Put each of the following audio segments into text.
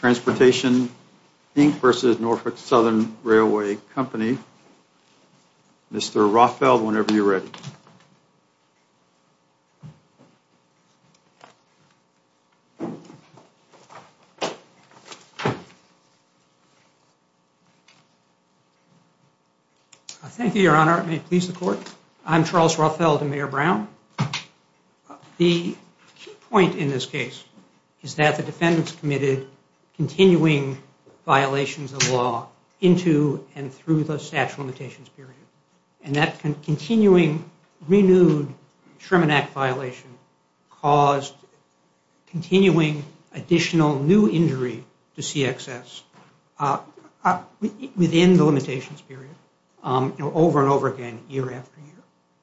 Transportation, Inc. v. Norfolk Southern Railway Company. Mr. Rothfeld, whenever you're ready. I thank you, Your Honor. It may please the Court. I'm Charles Rothfeld, the Mayor Brown. The key point in this case is that the defendants committed continuing violations of law into and through the statute of limitations period, and that continuing renewed Sherman Act violation caused continuing additional new injury to CXS within the limitations period, over and over again, year after year.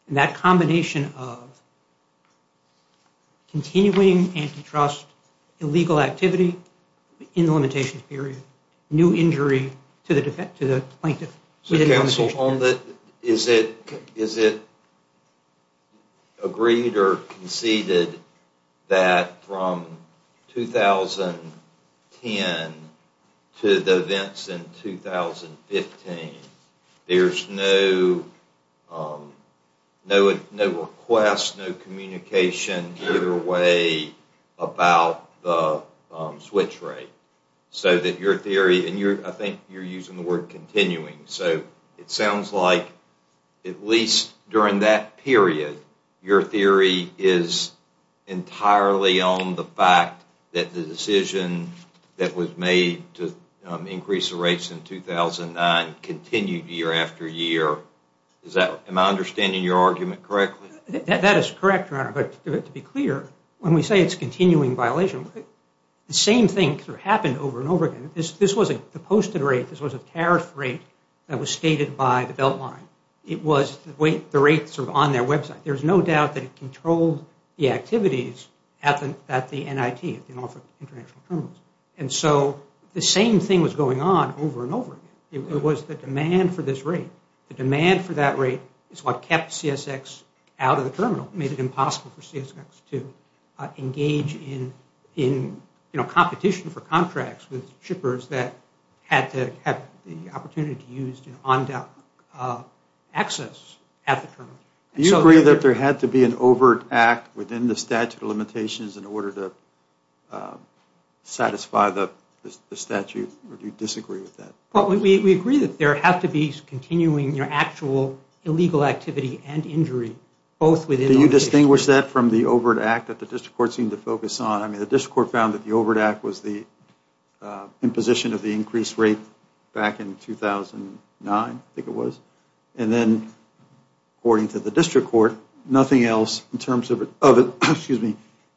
And that combination of continuing antitrust illegal activity in the limitations period, new injury to the plaintiff within the limitations period. Is it agreed or conceded that from 2010 to the events in 2015, there's no request, no communication either way about the switch rate? So that your theory, and I think you're using the word continuing, so it sounds like at least during that period, your theory is entirely on the fact that the decision that was made to increase the rates in 2009 continued year after year. Am I understanding your argument correctly? That is correct, Your Honor, but to be clear, when we say it's continuing violation, the same thing happened over and over again. This wasn't the posted rate, this was a tariff rate that was stated by the Beltline. It was the rates on their website. There's no doubt that it controlled the activities at the NIT, at the Norfolk International Terminals. And so the same thing was going on over and over again. It was the demand for this rate. The demand for that rate is what kept CSX out of the terminal, made it impossible for CSX to engage in competition for contracts with shippers that had the opportunity to use on-deck access at the terminal. Do you agree that there had to be an overt act within the statute of limitations in order to satisfy the statute, or do you disagree with that? We agree that there have to be continuing actual illegal activity and injury, both within the...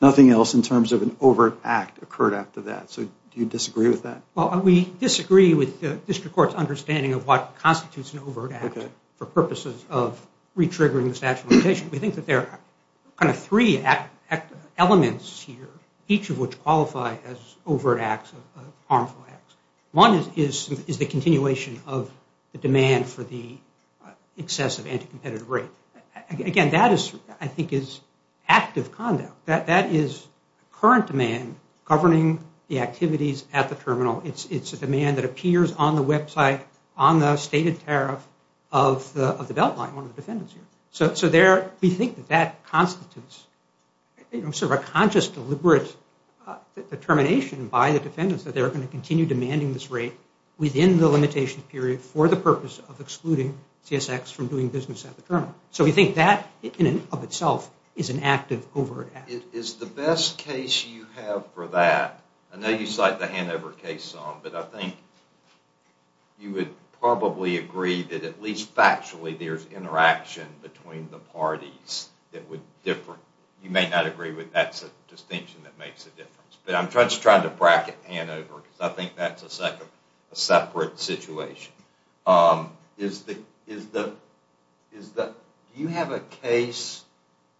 Nothing else in terms of an overt act occurred after that, so do you disagree with that? Well, we disagree with the district court's understanding of what constitutes an overt act for purposes of re-triggering the statute of limitations. We think that there are kind of three elements here, each of which qualify as overt acts of harmful acts. One is the continuation of the demand for the excessive anti-competitive rate. Again, that is, I think, is active conduct. That is current demand governing the activities at the terminal. It's a demand that appears on the website, on the stated tariff of the Beltline, one of the defendants here. So we think that that constitutes sort of a conscious, deliberate determination by the defendants that they are going to continue demanding this rate within the limitation period for the purpose of excluding CSX from doing business at the terminal. So we think that, in and of itself, is an active overt act. Is the best case you have for that... I know you cite the Hanover case some, but I think you would probably agree that at least factually there's interaction between the parties that would differ. You may not agree, but that's a distinction that makes a difference. But I'm just trying to bracket Hanover, because I think that's a separate situation. Do you have a case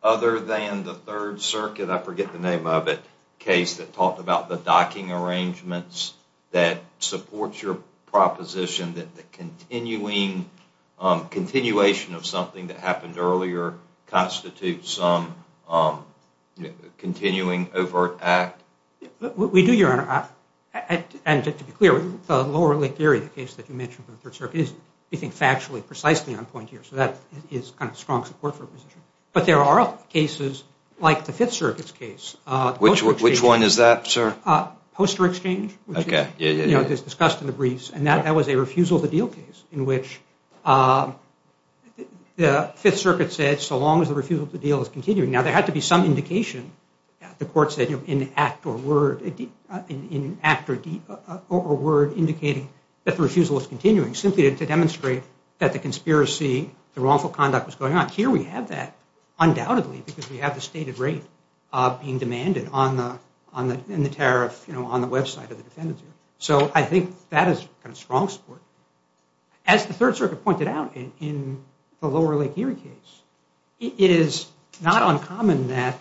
other than the Third Circuit, I forget the name of it, case that talked about the docking arrangements that supports your proposition that the continuation of something that happened earlier constitutes some continuing overt act? We do, Your Honor. And to be clear, the Lower Lake Erie case that you mentioned with the Third Circuit is, we think, factually, precisely on point here. So that is kind of strong support for a position. But there are cases like the Fifth Circuit's case. Which one is that, sir? Poster exchange, which is discussed in the briefs. And that was a refusal to deal case in which the Fifth Circuit said, so long as the refusal to deal is continuing. Now, there had to be some indication. The court said, in act or word, indicating that the refusal is continuing. Simply to demonstrate that the conspiracy, the wrongful conduct was going on. Here we have that, undoubtedly, because we have the stated rate being demanded in the tariff on the website of the defendant. So I think that is kind of strong support. As the Third Circuit pointed out, in the Lower Lake Erie case, it is not uncommon that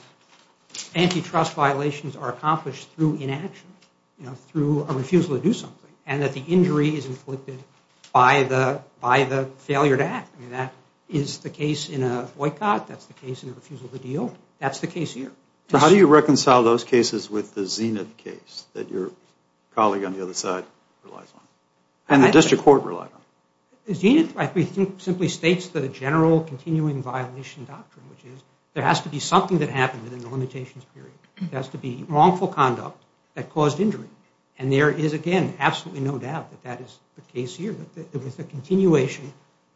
antitrust violations are accomplished through inaction. Through a refusal to do something. And that the injury is inflicted by the failure to act. That is the case in a boycott. That's the case in a refusal to deal. That's the case here. So how do you reconcile those cases with the Zenith case that your colleague on the other side relies on? And the district court relies on? Zenith, I think, simply states the general continuing violation doctrine. Which is, there has to be something that happened in the limitations period. There has to be wrongful conduct that caused injury. And there is, again, absolutely no doubt that that is the case here. It was the continuation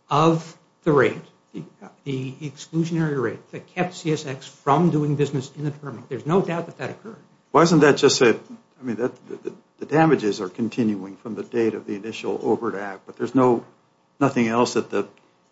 of the rate, the exclusionary rate, that kept CSX from doing business in the terminal. There is no doubt that that occurred. Why isn't that just a, I mean, the damages are continuing from the date of the initial overt act. But there is nothing else that the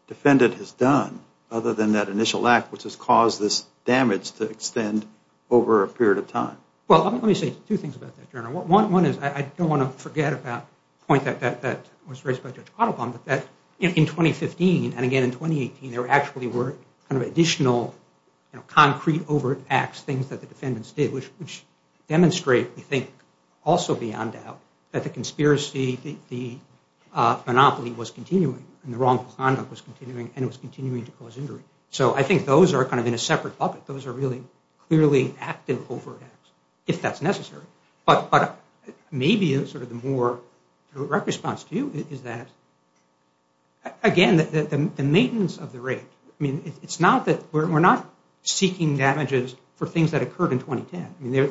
defendant has done, other than that initial act, which has caused this damage to extend over a period of time. Well, let me say two things about that, General. One is, I don't want to forget about the point that was raised by Judge Ottobaum, but that in 2015, and again in 2018, there actually were additional concrete overt acts, things that the defendants did, which demonstrate, I think, also beyond doubt, that the conspiracy, the monopoly was continuing. And the wrongful conduct was continuing, and it was continuing to cause injury. So I think those are kind of in a separate bucket. Those are really clearly active overt acts, if that's necessary. But maybe sort of the more direct response to you is that, again, the maintenance of the rate. I mean, it's not that, we're not seeking damages for things that occurred in 2010. I mean,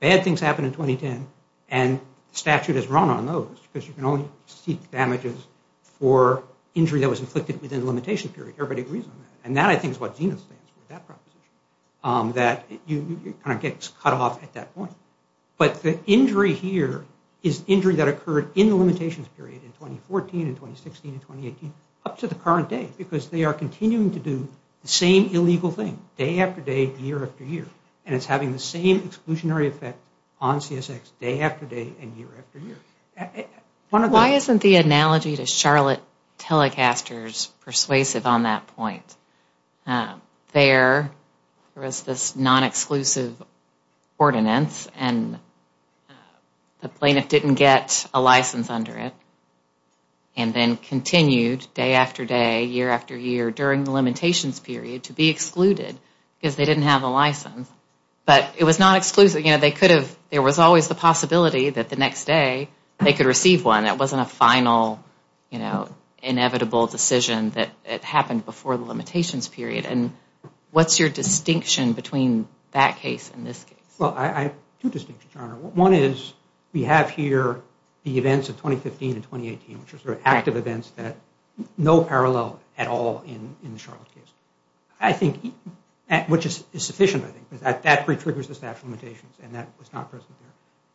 bad things happened in 2010, and statute has run on those, because you can only seek damages for injury that was inflicted within a limitation period. Everybody agrees on that. And that, I think, is what Zenith stands for, that proposition, that it kind of gets cut off at that point. But the injury here is injury that occurred in the limitations period in 2014, in 2016, in 2018, up to the current day, because they are continuing to do the same illegal thing, day after day, year after year, and it's having the same exclusionary effect on CSX, day after day, and year after year. Why isn't the analogy to Charlotte Telecasters persuasive on that point? There was this non-exclusive ordinance, and the plaintiff didn't get a license under it, and then continued, day after day, year after year, during the limitations period, to be excluded, because they didn't have a license. But it was not exclusive. You know, they could have, there was always the possibility that the next day, they could receive one. It wasn't a final, you know, inevitable decision that happened before the limitations period. And what's your distinction between that case and this case? Well, I have two distinctions, Your Honor. One is, we have here the events of 2015 and 2018, which are sort of active events that no parallel at all in the Charlotte case. I think, which is sufficient, I think, because that retriggers the statute of limitations, and that was not present there.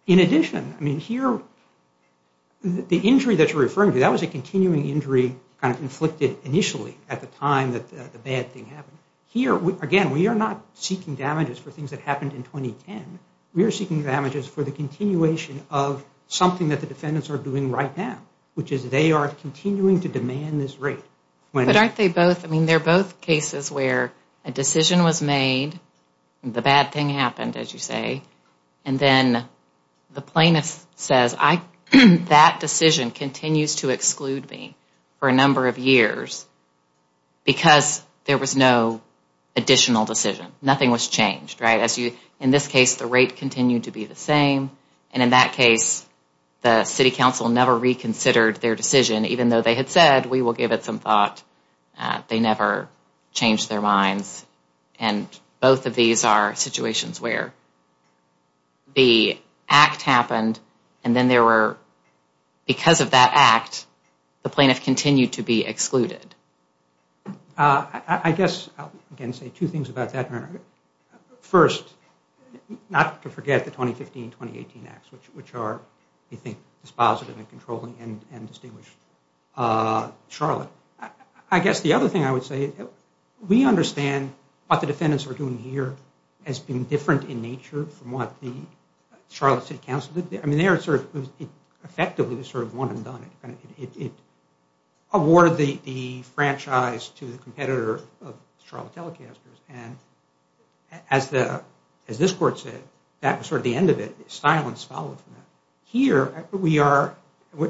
In addition, I mean, here, the injury that you're referring to, that was a continuing injury kind of inflicted initially at the time that the bad thing happened. Here, again, we are not seeking damages for things that happened in 2010. We are seeking damages for the continuation of something that the defendants are doing right now, which is they are continuing to demand this rate. But aren't they both, I mean, they're both cases where a decision was made, the bad thing happened, as you say, and then the plaintiff says, that decision continues to exclude me for a number of years because there was no additional decision. Nothing was changed, right? In this case, the rate continued to be the same, and in that case, the city council never reconsidered their decision, even though they had said, we will give it some thought. They never changed their minds. And both of these are situations where the act happened, and then there were, because of that act, the plaintiff continued to be excluded. I guess I'll, again, say two things about that. First, not to forget the 2015-2018 acts, which are, we think, dispositive and controlling and distinguished. Charlotte. I guess the other thing I would say, we understand what the defendants are doing here has been different in nature from what the Charlotte City Council did there. I mean, there it sort of effectively was sort of one and done. It awarded the franchise to the competitor of Charlotte Telecasters, and as this court said, that was sort of the end of it. Silence followed from that. Here, we are,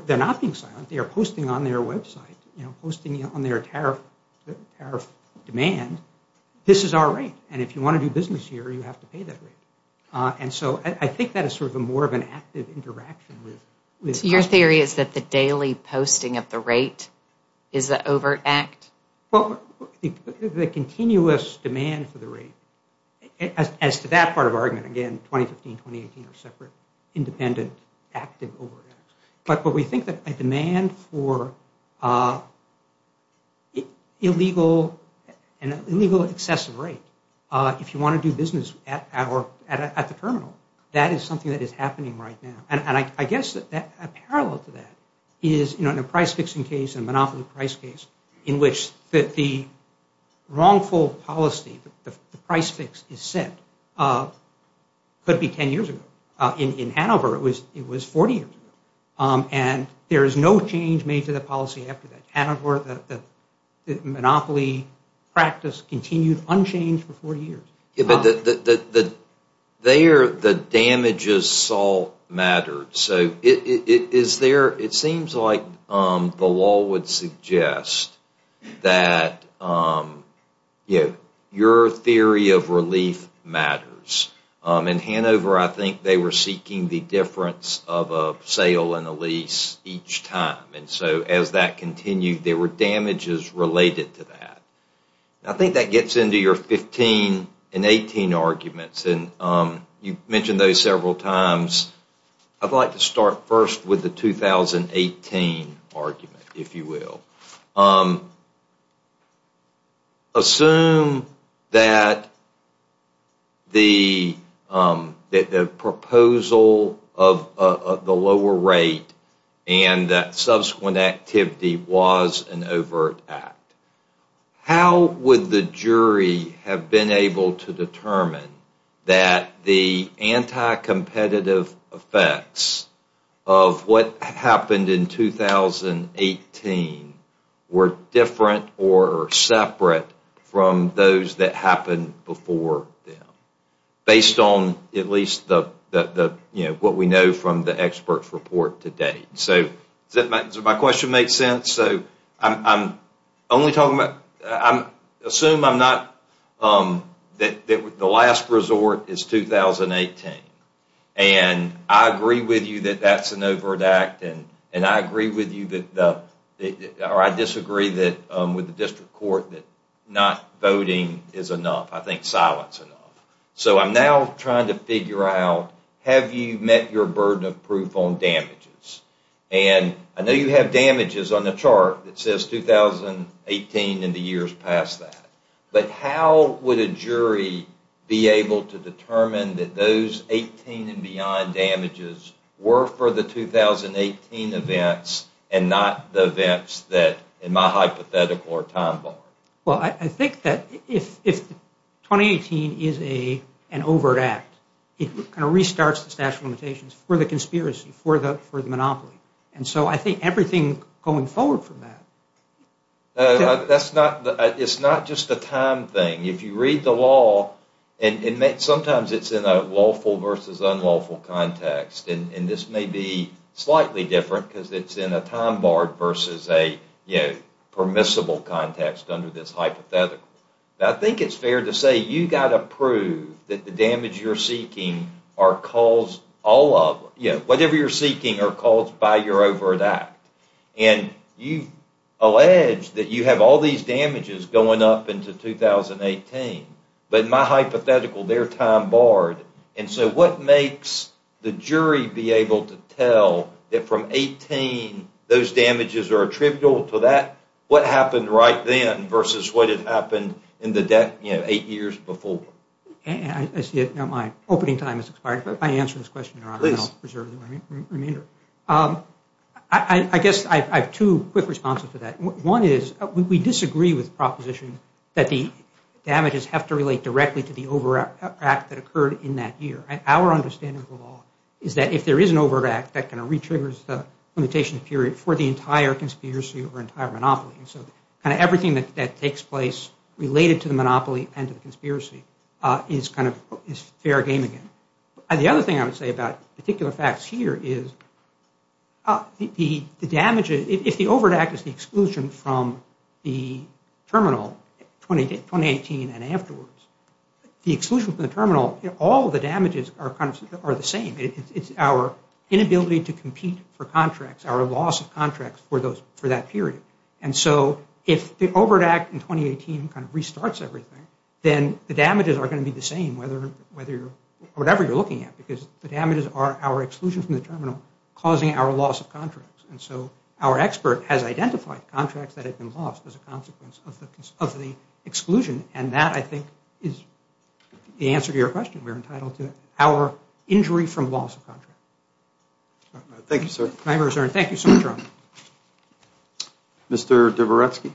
they're not being silent. They are posting on their website, you know, posting on their tariff demand. This is our rate, and if you want to do business here, you have to pay that rate. And so I think that is sort of more of an active interaction with customers. So your theory is that the daily posting of the rate is the overt act? Well, the continuous demand for the rate, as to that part of our argument, again, 2015, 2018 are separate, independent, active overt acts. But we think that a demand for illegal excessive rate, if you want to do business at the terminal, that is something that is happening right now. And I guess a parallel to that is, you know, in a price-fixing case, a monopoly price case, in which the wrongful policy, the price fix is set, could be 10 years ago. In Hanover, it was 40 years ago. And there is no change made to the policy after that. Hanover, the monopoly practice continued unchanged for 40 years. Yeah, but the damages all mattered. So it seems like the law would suggest that your theory of relief matters. In Hanover, I think they were seeking the difference of a sale and a lease each time. And so as that continued, there were damages related to that. I think that gets into your 15 and 18 arguments. And you mentioned those several times. I'd like to start first with the 2018 argument, if you will. Assume that the proposal of the lower rate and that subsequent activity was an overt act. How would the jury have been able to determine that the anti-competitive effects of what happened in 2018 were different or separate from those that happened before them, based on at least what we know from the experts' report to date? Does my question make sense? Assume the last resort is 2018. And I agree with you that that's an overt act. And I disagree with the district court that not voting is enough. I think silence is enough. So I'm now trying to figure out, have you met your burden of proof on damages? And I know you have damages on the chart that says 2018 and the years past that. But how would a jury be able to determine that those 18 and beyond damages were for the 2018 events and not the events that, in my hypothetical, are time-barring? Well, I think that if 2018 is an overt act, it kind of restarts the statute of limitations for the conspiracy, for the monopoly. And so I think everything going forward from that. It's not just a time thing. If you read the law, and sometimes it's in a lawful versus unlawful context, and this may be slightly different because it's in a time-barred versus a permissible context under this hypothetical. I think it's fair to say you've got to prove that the damage you're seeking are caused by your overt act. And you've alleged that you have all these damages going up into 2018. But in my hypothetical, they're time-barred. And so what makes the jury be able to tell that from 18, those damages are attributable to that? What happened right then versus what had happened eight years before? I see that my opening time has expired, but if I answer this question, Your Honor, I'll preserve the remainder. I guess I have two quick responses to that. One is we disagree with the proposition that the damages have to relate directly to the overt act that occurred in that year. Our understanding of the law is that if there is an overt act, that kind of re-triggers the limitation period for the entire conspiracy or entire monopoly. And so kind of everything that takes place related to the monopoly and to the conspiracy is kind of fair game again. The other thing I would say about particular facts here is the damage, if the overt act is the exclusion from the terminal, 2018 and afterwards, the exclusion from the terminal, all the damages are the same. It's our inability to compete for contracts, our loss of contracts for that period. And so if the overt act in 2018 kind of restarts everything, then the damages are going to be the same, whatever you're looking at, because the damages are our exclusion from the terminal causing our loss of contracts. And so our expert has identified contracts that have been lost as a consequence of the exclusion. And that, I think, is the answer to your question. We're entitled to our injury from loss of contract. Thank you, sir. Thank you, sir. Mr. Dvoretsky.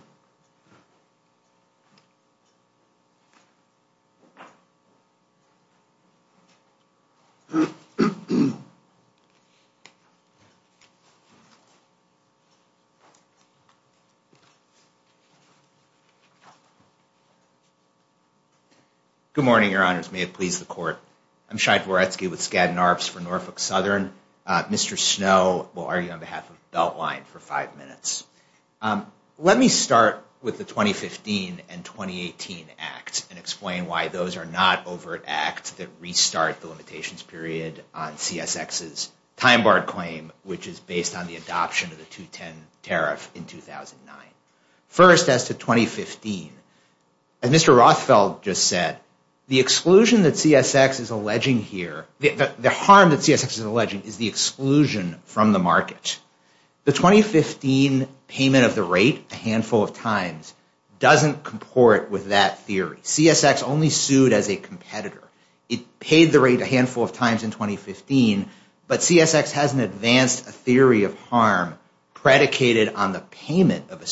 Good morning, Your Honors. May it please the Court. I'm Shai Dvoretsky with Skadden Arps for Norfolk Southern. Mr. Snow will argue on behalf of Beltline for five minutes. Let me start with the 2015 and 2018 acts and explain why those are not overt acts that restart the limitations period on CSX's time-barred claim, which is based on the adoption of the 2010 tariff in 2009. First, as to 2015, as Mr. Rothfeld just said, the exclusion that CSX is alleging here, the harm that CSX is alleging, is the exclusion from the market. The 2015 payment of the rate a handful of times doesn't comport with that theory. CSX only sued as a competitor. It paid the rate a handful of times in 2015, but CSX hasn't advanced a theory of harm predicated on the payment of a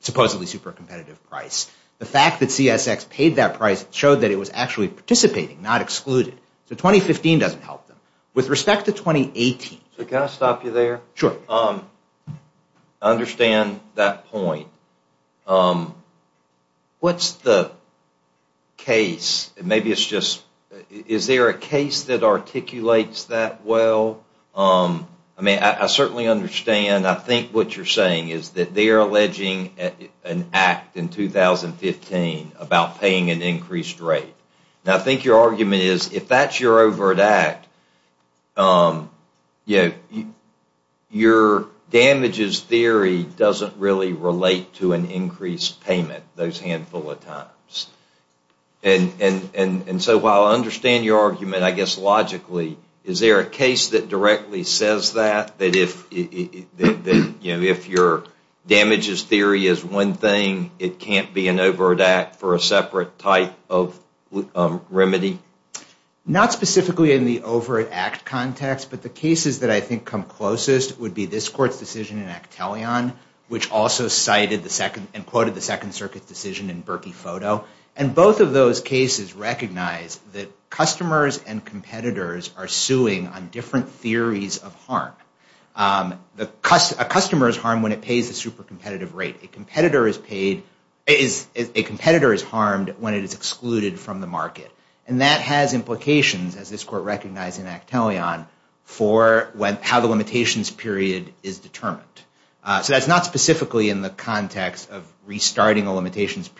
supposedly super competitive price. The fact that CSX paid that price showed that it was actually participating, not excluded. So 2015 doesn't help them. With respect to 2018... Can I stop you there? Sure. I understand that point. What's the case? Is there a case that articulates that well? I certainly understand. I think what you're saying is that they're alleging an act in 2015 about paying an increased rate. I think your argument is, if that's your overt act, your damages theory doesn't really relate to an increased payment those handful of times. So while I understand your argument, I guess logically, is there a case that directly says that? That if your damages theory is one thing, it can't be an overt act for a separate type of remedy? Not specifically in the overt act context, but the cases that I think come closest would be this court's decision in Actelion, which also cited and quoted the Second Circuit's decision in Berkey Photo. And both of those cases recognize that customers and competitors are suing on different theories of harm. A customer is harmed when it pays a super competitive rate. A competitor is harmed when it is excluded from the market. And that has implications, as this court recognized in Actelion, for how the limitations period is determined. So that's not specifically in the context of restarting a limitations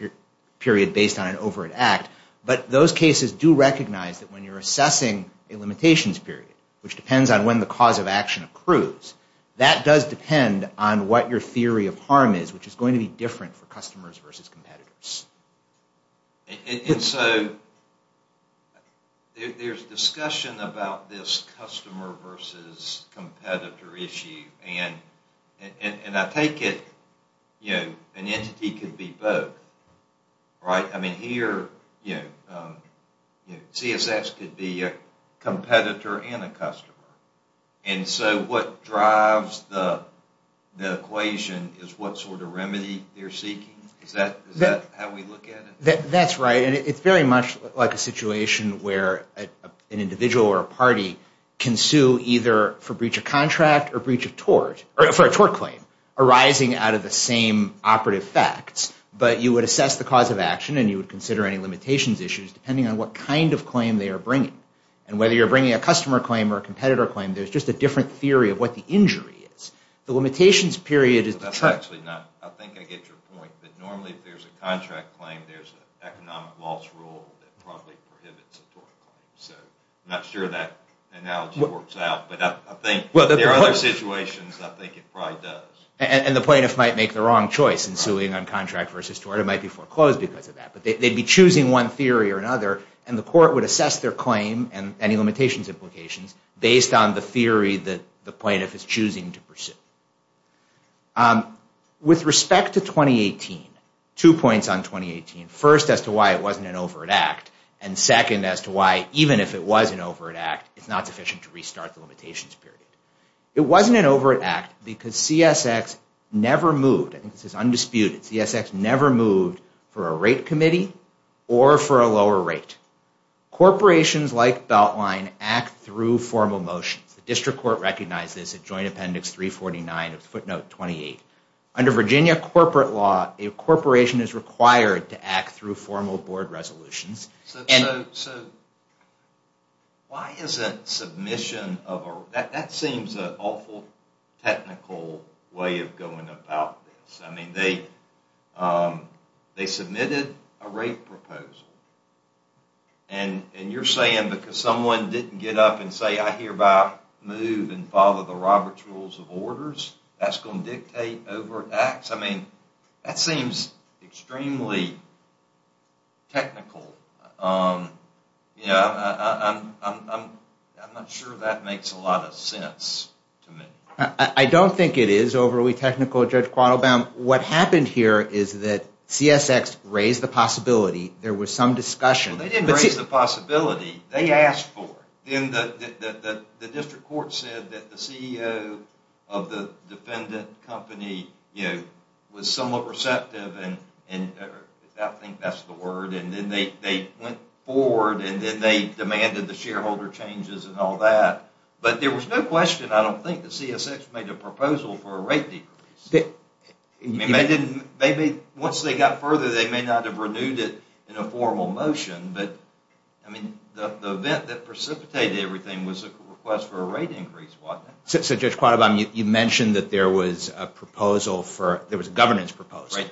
period based on an overt act. But those cases do recognize that when you're assessing a limitations period, which depends on when the cause of action accrues, that does depend on what your theory of harm is, which is going to be different for customers versus competitors. And so there's discussion about this customer versus competitor issue. And I take it an entity could be both, right? I mean here, CSS could be a competitor and a customer. And so what drives the equation is what sort of remedy they're seeking. Is that how we look at it? That's right. And it's very much like a situation where an individual or a party can sue either for breach of contract or for a tort claim arising out of the same operative facts. But you would assess the cause of action and you would consider any limitations issues depending on what kind of claim they are bringing. And whether you're bringing a customer claim or a competitor claim, there's just a different theory of what the injury is. I think I get your point, but normally if there's a contract claim, there's an economic loss rule that probably prohibits a tort claim. So I'm not sure that analogy works out. But I think there are other situations I think it probably does. And the plaintiff might make the wrong choice in suing on contract versus tort. It might be foreclosed because of that. But they'd be choosing one theory or another, and the court would assess their claim and any limitations implications based on the theory that the plaintiff is choosing to pursue. With respect to 2018, two points on 2018. First, as to why it wasn't an overt act. And second, as to why even if it was an overt act, it's not sufficient to restart the limitations period. It wasn't an overt act because CSX never moved. This is undisputed. CSX never moved for a rate committee or for a lower rate. Corporations like Beltline act through formal motions. The district court recognized this at joint appendix 349 of footnote 28. Under Virginia corporate law, a corporation is required to act through formal board resolutions. So why isn't submission of a... That seems an awful technical way of going about this. I mean, they submitted a rate proposal. And you're saying because someone didn't get up and say, I hereby move and follow the Robert's Rules of Orders, that's going to dictate overt acts? I mean, that seems extremely technical. I'm not sure that makes a lot of sense to me. I don't think it is overly technical, Judge Quattlebaum. What happened here is that CSX raised the possibility. There was some discussion. They didn't raise the possibility. They asked for it. The district court said that the CEO of the defendant company was somewhat receptive, and I think that's the word. And then they went forward, and then they demanded the shareholder changes and all that. But there was no question, I don't think, that CSX made a proposal for a rate decrease. Maybe once they got further, they may not have renewed it in a formal motion, but the event that precipitated everything was a request for a rate increase. So Judge Quattlebaum, you mentioned that there was a proposal for... There was a governance proposal.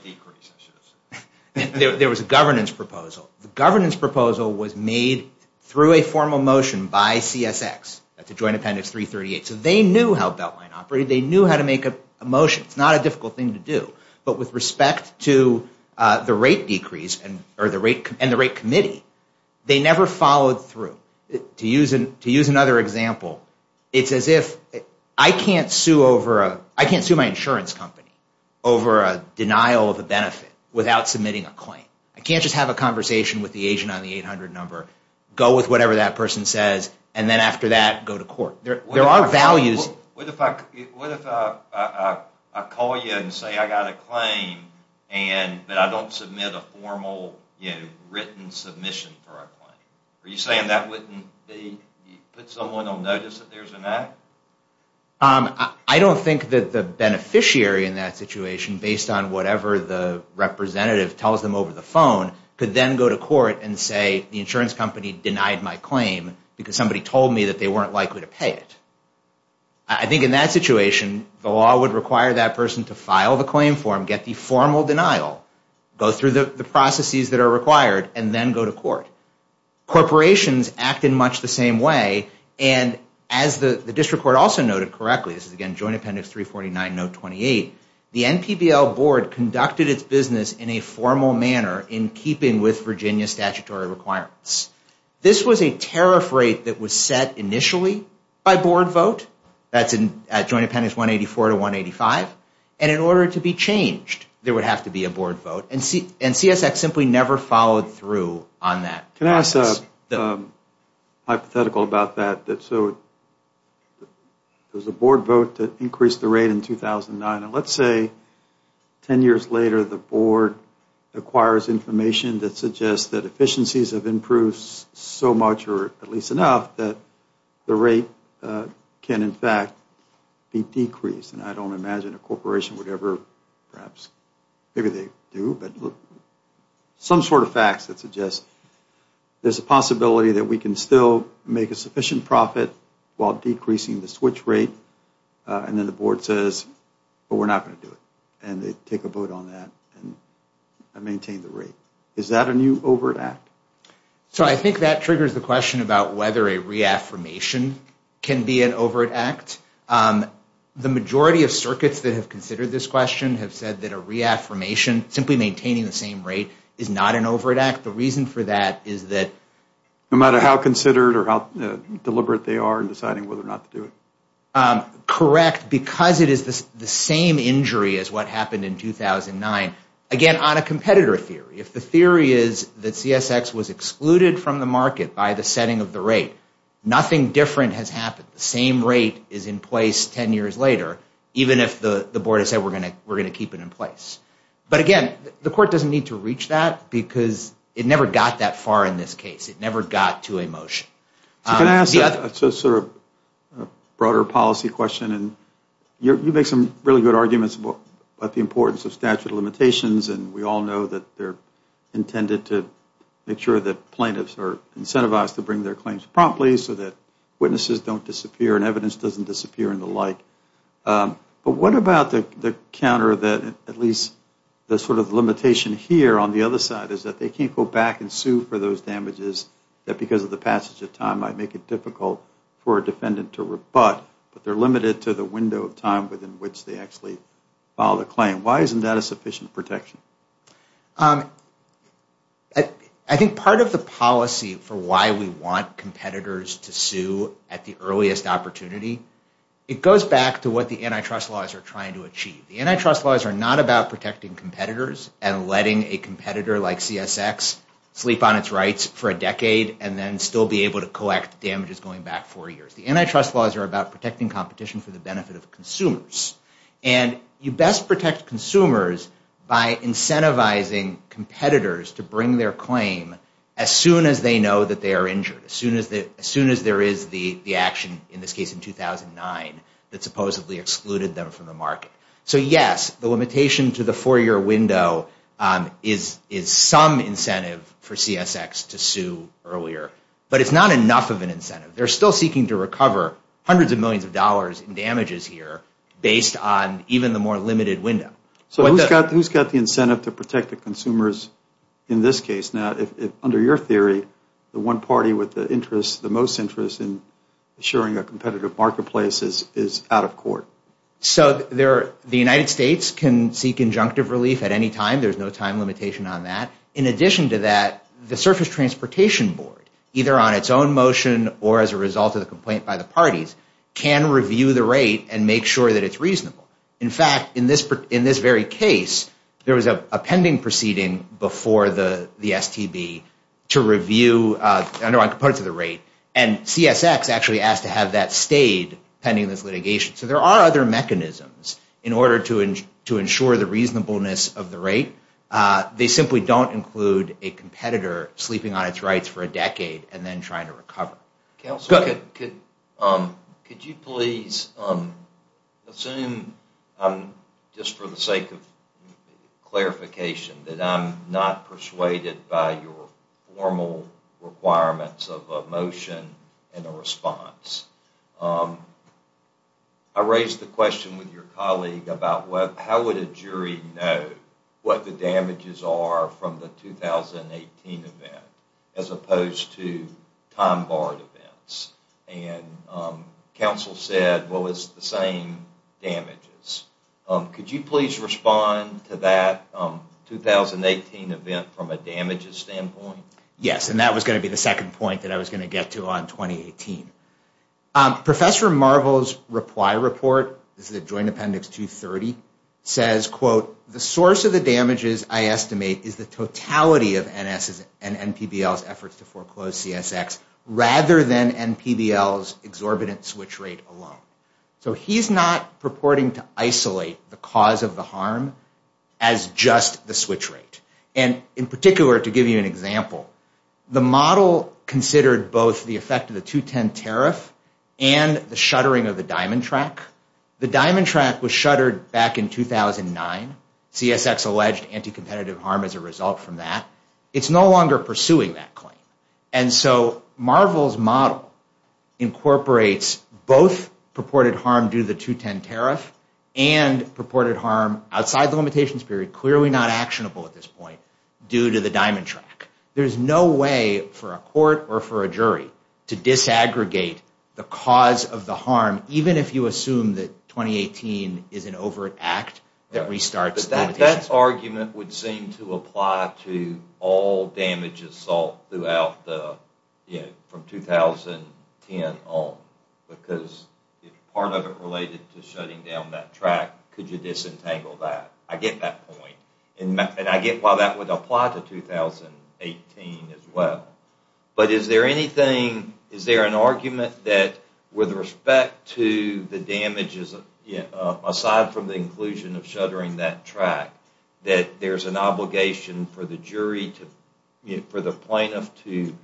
There was a governance proposal. The governance proposal was made through a formal motion by CSX. That's a joint appendix 338. So they knew how Beltline operated. They knew how to make a motion. It's not a difficult thing to do. But with respect to the rate decrease and the rate committee, they never followed through. To use another example, it's as if I can't sue my insurance company over a denial of a benefit without submitting a claim. I can't just have a conversation with the agent on the 800 number, go with whatever that person says, and then after that, go to court. There are values... What if I call you and say I got a claim, but I don't submit a formal written submission for a claim? Are you saying that wouldn't be... Put someone on notice that there's an act? I don't think that the beneficiary in that situation, based on whatever the representative tells them over the phone, could then go to court and say, the insurance company denied my claim because somebody told me that they weren't likely to pay it. I think in that situation, the law would require that person to file the claim form, get the formal denial, go through the processes that are required, and then go to court. Corporations act in much the same way, and as the district court also noted correctly, this is again joint appendix 349, note 28, the NPBL board conducted its business in a formal manner in keeping with Virginia statutory requirements. This was a tariff rate that was set initially by board vote. That's at joint appendix 184 to 185. And in order to be changed, there would have to be a board vote. And CSX simply never followed through on that process. Can I ask a hypothetical about that? So there's a board vote to increase the rate in 2009, and let's say 10 years later the board acquires information that suggests that efficiencies have improved so much, or at least enough, that the rate can in fact be decreased. And I don't imagine a corporation would ever perhaps, maybe they do, but some sort of facts that suggest there's a possibility that we can still make a sufficient profit while decreasing the switch rate. And then the board says, well, we're not going to do it. And they take a vote on that and maintain the rate. Is that a new overt act? So I think that triggers the question about whether a reaffirmation can be an overt act. The majority of circuits that have considered this question have said that a reaffirmation, simply maintaining the same rate, is not an overt act. The reason for that is that no matter how considered or how deliberate they are in deciding whether or not to do it. Correct. Because it is the same injury as what happened in 2009, again, on a competitor theory. If the theory is that CSX was excluded from the market by the setting of the rate, nothing different has happened. The same rate is in place 10 years later, even if the board has said we're going to keep it in place. But again, the court doesn't need to reach that because it never got that far in this case. It never got to a motion. Can I ask a sort of broader policy question? You make some really good arguments about the importance of statute of limitations, and we all know that they're intended to make sure that plaintiffs are incentivized to bring their claims promptly so that witnesses don't disappear and evidence doesn't disappear and the like. But what about the counter that at least the sort of limitation here on the other side is that they can't go back and sue for those damages that because of the passage of time might make it difficult for a defendant to rebut, but they're limited to the window of time within which they actually filed a claim. Why isn't that a sufficient protection? I think part of the policy for why we want competitors to sue at the earliest opportunity, it goes back to what the antitrust laws are trying to achieve. The antitrust laws are not about protecting competitors and letting a competitor like CSX sleep on its rights for a decade and then still be able to collect damages going back four years. The antitrust laws are about protecting competition for the benefit of consumers. And you best protect consumers by incentivizing competitors to bring their claim as soon as they know that they are injured, as soon as there is the action, in this case in 2009, that supposedly excluded them from the market. So yes, the limitation to the four-year window is some incentive for CSX to sue earlier, but it's not enough of an incentive. They're still seeking to recover hundreds of millions of dollars in damages here based on even the more limited window. So who's got the incentive to protect the consumers in this case? Now, under your theory, the one party with the most interest in assuring a competitive marketplace is out of court. So the United States can seek injunctive relief at any time. There's no time limitation on that. In addition to that, the Surface Transportation Board, either on its own motion or as a result of the complaint by the parties, can review the rate and make sure that it's reasonable. In fact, in this very case, there was a pending proceeding before the STB to review the underlying components of the rate, and CSX actually asked to have that stayed pending this litigation. So there are other mechanisms in order to ensure the reasonableness of the rate. They simply don't include a competitor sleeping on its rights for a decade Counsel, could you please assume, just for the sake of clarification, that I'm not persuaded by your formal requirements of a motion and a response. I raised the question with your colleague about how would a jury know what the damages are from the 2018 event as opposed to time-barred events. And counsel said, well, it's the same damages. Could you please respond to that 2018 event from a damages standpoint? Yes, and that was going to be the second point that I was going to get to on 2018. Professor Marvell's reply report, this is a joint appendix 230, says, quote, the source of the damages, I estimate, is the totality of NS's and NPBL's efforts to foreclose CSX rather than NPBL's exorbitant switch rate alone. So he's not purporting to isolate the cause of the harm as just the switch rate. And in particular, to give you an example, the model considered both the effect of the 210 tariff and the shuttering of the diamond track. The diamond track was shuttered back in 2009. CSX alleged anti-competitive harm as a result from that. It's no longer pursuing that claim. And so Marvell's model incorporates both purported harm due to the 210 tariff and purported harm outside the limitations period, clearly not actionable at this point, due to the diamond track. There's no way for a court or for a jury to disaggregate the cause of the harm, even if you assume that 2018 is an overt act that restarts limitations. But that argument would seem to apply to all damage assault from 2010 on. Because if part of it related to shutting down that track, could you disentangle that? I get that point. And I get why that would apply to 2018 as well. But is there anything, is there an argument that with respect to the damages, aside from the inclusion of shuttering that track, that there's an obligation for the jury, for the plaintiff to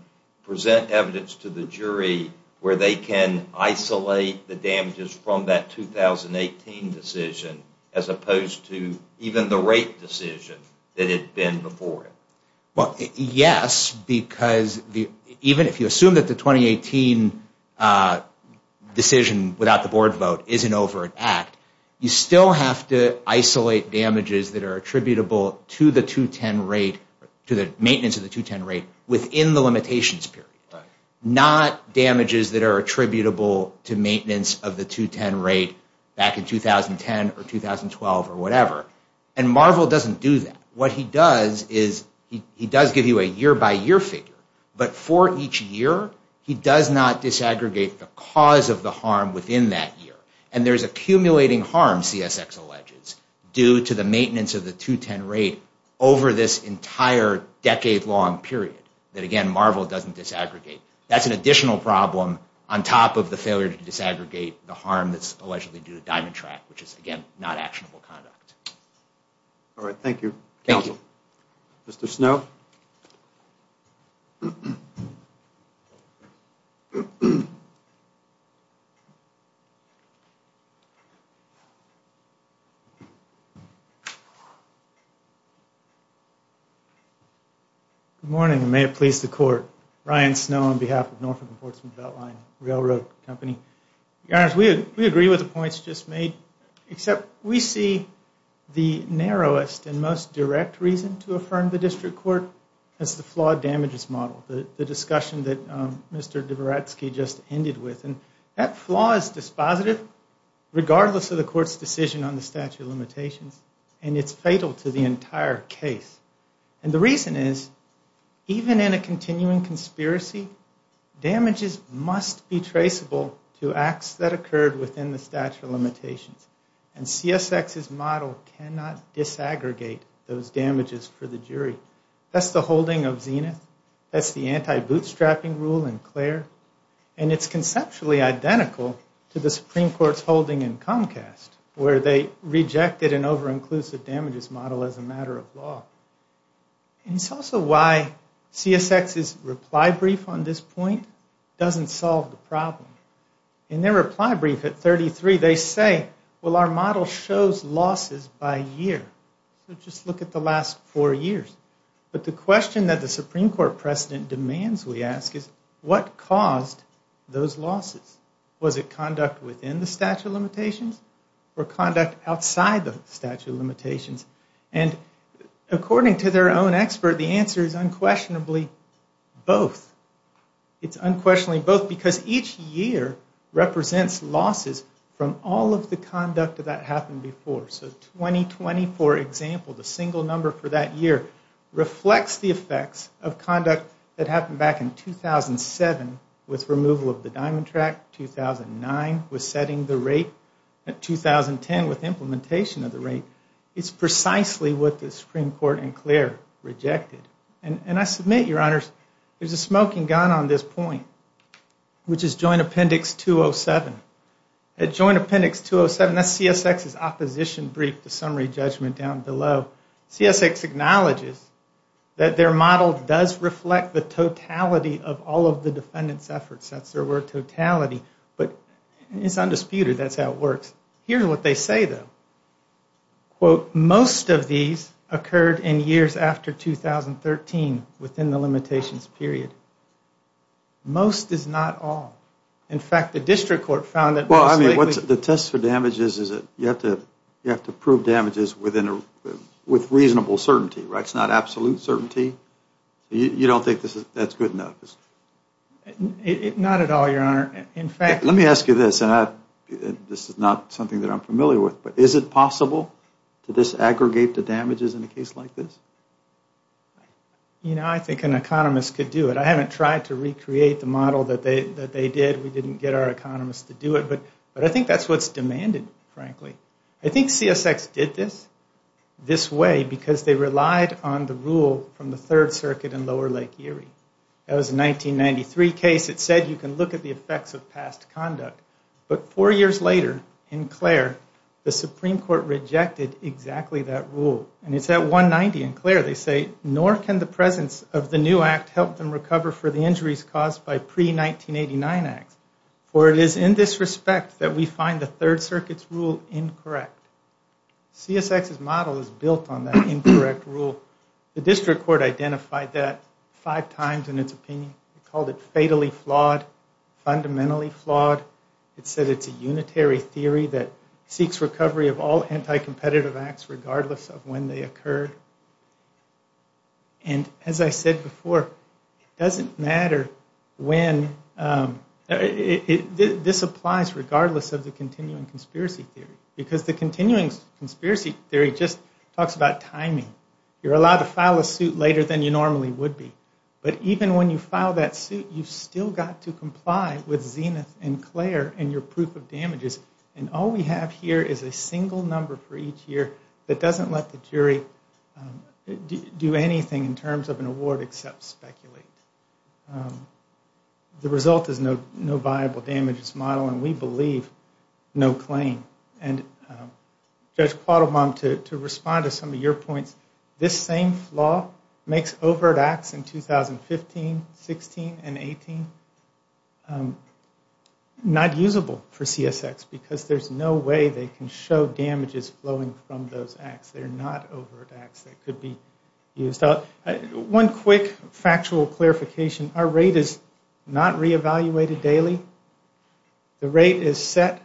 present evidence to the jury where they can isolate the damages from that 2018 decision as opposed to even the rape decision that had been before it? Well, yes, because even if you assume that the 2018 decision without the board vote isn't over an act, you still have to isolate damages that are attributable to the 210 rate, to the maintenance of the 210 rate within the limitations period. Not damages that are attributable to maintenance of the 210 rate back in 2010 or 2012 or whatever. And Marvell doesn't do that. What he does is he does give you a year-by-year figure. But for each year, he does not disaggregate the cause of the harm within that year. And there's accumulating harm, CSX alleges, due to the maintenance of the 210 rate over this entire decade-long period that, again, Marvell doesn't disaggregate. That's an additional problem on top of the failure to disaggregate the harm that's allegedly due to Diamond Track, which is, again, not actionable conduct. All right, thank you. Counsel. Mr. Snow. Good morning, and may it please the Court. Ryan Snow on behalf of Norfolk and Portsmouth Beltline Railroad Company. Your Honor, we agree with the points just made, except we see the narrowest and most direct reason to affirm the district court as the flawed damages model, the discussion that Mr. Dvoratsky just ended with. And that flaw is dispositive, regardless of the Court's decision on the statute of limitations, and it's fatal to the entire case. And the reason is, even in a continuing conspiracy, damages must be traceable to acts that occurred within the statute of limitations. And CSX's model cannot disaggregate those damages for the jury. That's the holding of Zenith. That's the anti-bootstrapping rule in Clare. And it's conceptually identical to the Supreme Court's holding in Comcast, where they rejected an over-inclusive damages model as a matter of law. And it's also why CSX's reply brief on this point doesn't solve the problem. In their reply brief at 33, they say, well, our model shows losses by year. So just look at the last four years. But the question that the Supreme Court precedent demands we ask is, what caused those losses? Was it conduct within the statute of limitations or conduct outside the statute of limitations? And according to their own expert, the answer is unquestionably both. It's unquestionably both because each year represents losses from all of the conduct that happened before. So 2020, for example, the single number for that year, reflects the effects of conduct that happened back in 2007 with removal of the diamond track, 2009 with setting the rate, and 2010 with implementation of the rate. It's precisely what the Supreme Court in Clare rejected. And I submit, Your Honors, there's a smoking gun on this point, which is Joint Appendix 207. At Joint Appendix 207, that's CSX's opposition brief, the summary judgment down below. CSX acknowledges that their model does reflect the totality of all of the defendant's efforts. That's their word, totality. But it's undisputed that's how it works. Here's what they say, though. Quote, most of these occurred in years after 2013 within the limitations period. Most is not all. In fact, the district court found that most likely... With reasonable certainty, right? It's not absolute certainty. You don't think that's good enough? Not at all, Your Honor. In fact... Let me ask you this, and this is not something that I'm familiar with, but is it possible to disaggregate the damages in a case like this? You know, I think an economist could do it. I haven't tried to recreate the model that they did. We didn't get our economists to do it. But I think that's what's demanded, frankly. I think CSX did this, this way, because they relied on the rule from the Third Circuit in Lower Lake Erie. That was a 1993 case. It said you can look at the effects of past conduct. But four years later, in Clare, the Supreme Court rejected exactly that rule. And it's at 190 in Clare, they say, nor can the presence of the new act help them recover for the injuries caused by pre-1989 acts, for it is in this respect that we find the Third Circuit's rule incorrect. CSX's model is built on that incorrect rule. The district court identified that five times in its opinion. It called it fatally flawed, fundamentally flawed. It said it's a unitary theory that seeks recovery of all anti-competitive acts, regardless of when they occur. And as I said before, it doesn't matter when. This applies regardless of the continuing conspiracy theory. Because the continuing conspiracy theory just talks about timing. You're allowed to file a suit later than you normally would be. But even when you file that suit, you've still got to comply with Zenith and Clare and your proof of damages. And all we have here is a single number for each year that doesn't let the jury do anything in terms of an award except speculate. The result is no viable damages model, and we believe no claim. And Judge Quattlebaum, to respond to some of your points, this same flaw makes overt acts in 2015, 16, and 18 not usable for CSX because there's no way they can show damages flowing from those acts. They're not overt acts that could be used. One quick factual clarification. Our rate is not reevaluated daily. The rate is set,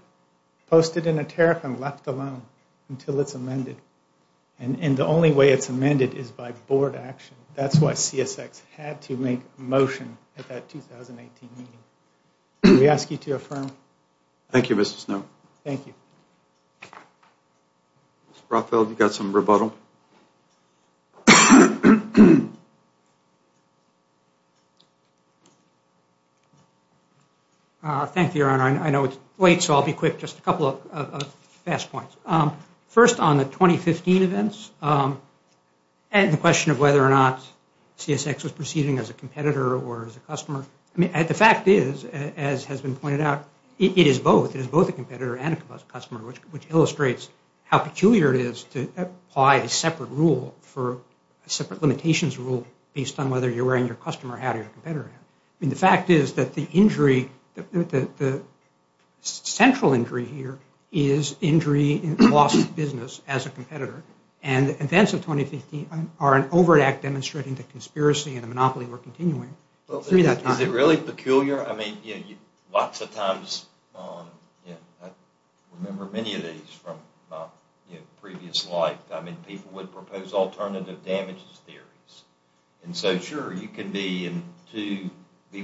posted in a tariff, and left alone until it's amended. And the only way it's amended is by board action. That's why CSX had to make a motion at that 2018 meeting. We ask you to affirm. Thank you, Mr. Snow. Thank you. Mr. Rothfeld, you've got some rebuttal. Thank you, Your Honor. I know it's late, so I'll be quick. Just a couple of fast points. First, on the 2015 events, and the question of whether or not CSX was proceeding as a competitor or as a customer. I mean, the fact is, as has been pointed out, it is both. It is both a competitor and a customer, which illustrates how peculiar it is to apply a separate rule for a separate limitations rule based on whether you're wearing your customer hat or your competitor hat. I mean, the fact is that the injury, the central injury here, is injury in the loss of business as a competitor. And the events of 2015 are an overt act demonstrating the conspiracy and the monopoly we're continuing through that time. Is it really peculiar? I mean, lots of times, I remember many of these from my previous life. I mean, people would propose alternative damages theories. And so, sure, you can be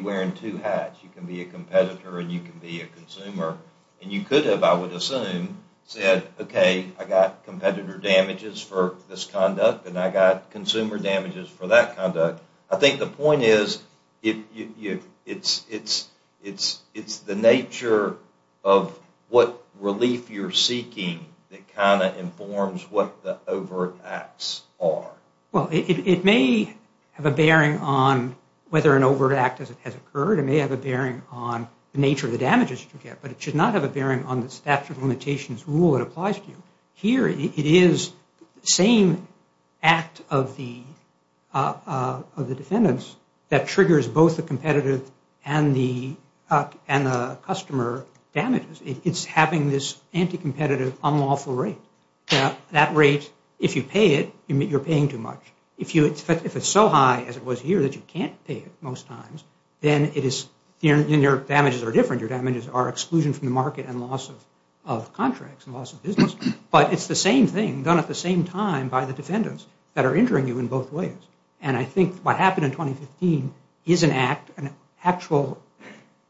wearing two hats. You can be a competitor and you can be a consumer. And you could have, I would assume, said, okay, I got competitor damages for this conduct, and I got consumer damages for that conduct. I think the point is it's the nature of what relief you're seeking that kind of informs what the overt acts are. Well, it may have a bearing on whether an overt act has occurred. It may have a bearing on the nature of the damages you get. But it should not have a bearing on the statute of limitations rule it applies to. Here, it is the same act of the defendants that triggers both the competitive and the customer damages. It's having this anti-competitive, unlawful rate. That rate, if you pay it, you're paying too much. If it's so high as it was here that you can't pay it most times, then your damages are different. Your damages are exclusion from the market and loss of contracts and loss of business. But it's the same thing done at the same time by the defendants that are injuring you in both ways. And I think what happened in 2015 is an act, an actual,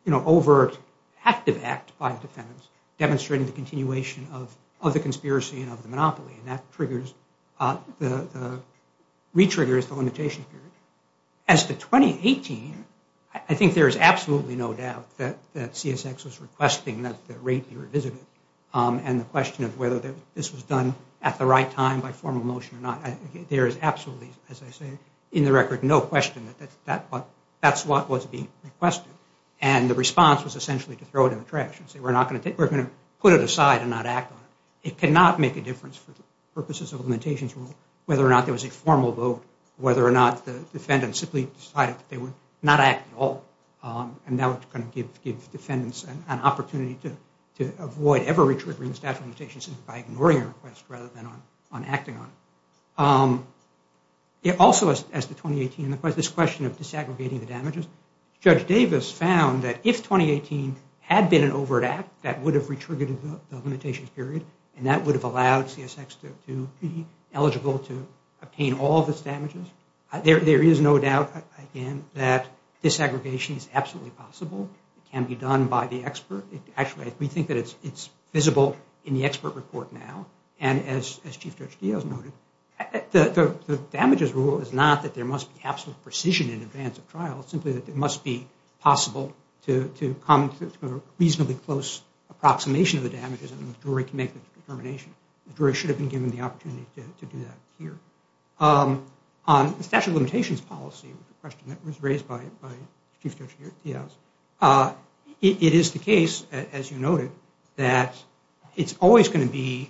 you know, overt active act by defendants demonstrating the continuation of the conspiracy and of the monopoly. And that triggers, re-triggers the limitation period. As to 2018, I think there is absolutely no doubt that CSX was requesting that the rate be revisited. And the question of whether this was done at the right time by formal motion or not, there is absolutely, as I say, in the record, no question that that's what was being requested. And the response was essentially to throw it in the trash and say we're going to put it aside and not act on it. It cannot make a difference for purposes of limitations rule whether or not there was a formal vote, whether or not the defendants simply decided that they would not act at all. And that was going to give defendants an opportunity to avoid ever re-triggering the statute of limitations by ignoring a request rather than on acting on it. It also, as to 2018, this question of disaggregating the damages, Judge Davis found that if 2018 had been an overt act, that would have re-triggered the limitation period, and that would have allowed CSX to be eligible to obtain all of its damages. There is no doubt, again, that disaggregation is absolutely possible. It can be done by the expert. Actually, we think that it's visible in the expert report now. And as Chief Judge Diaz noted, the damages rule is not that there must be absolute precision in advance of trial. It's simply that it must be possible to come to a reasonably close approximation of the damages and the jury can make the determination. The jury should have been given the opportunity to do that here. On the statute of limitations policy, the question that was raised by Chief Judge Diaz, it is the case, as you noted, that it's always going to be,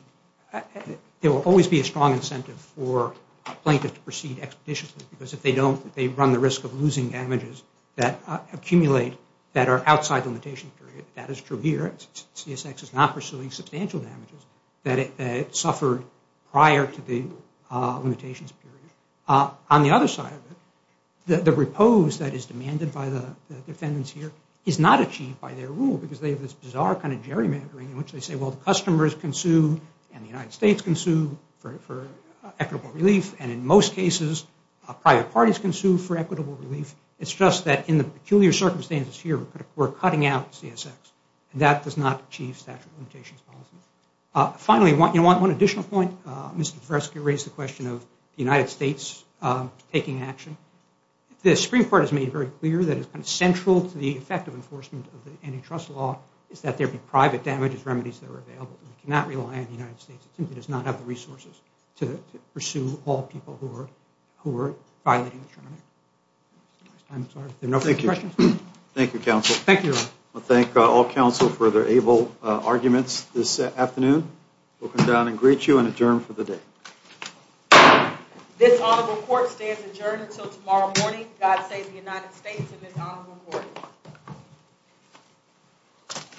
there will always be a strong incentive for a plaintiff to proceed expeditiously because if they don't, they run the risk of losing damages that accumulate that are outside the limitation period. That is true here. CSX is not pursuing substantial damages that it suffered prior to the limitations period. On the other side of it, the repose that is demanded by the defendants here is not achieved by their rule because they have this bizarre kind of gerrymandering in which they say, well, the customers can sue and the United States can sue for equitable relief, and in most cases, private parties can sue for equitable relief. It's just that in the peculiar circumstances here, we're cutting out CSX, and that does not achieve statute of limitations policy. Finally, one additional point. Mr. Tversky raised the question of the United States taking action. The Supreme Court has made it very clear that it's central to the effective enforcement of the antitrust law is that there be private damages remedies that are available. We cannot rely on the United States. It simply does not have the resources to pursue all people who are violating the term. Thank you. Thank you, counsel. Thank you. I thank all counsel for their able arguments this afternoon. We'll come down and greet you and adjourn for the day. This honorable court stands adjourned until tomorrow morning. God save the United States and this honorable court.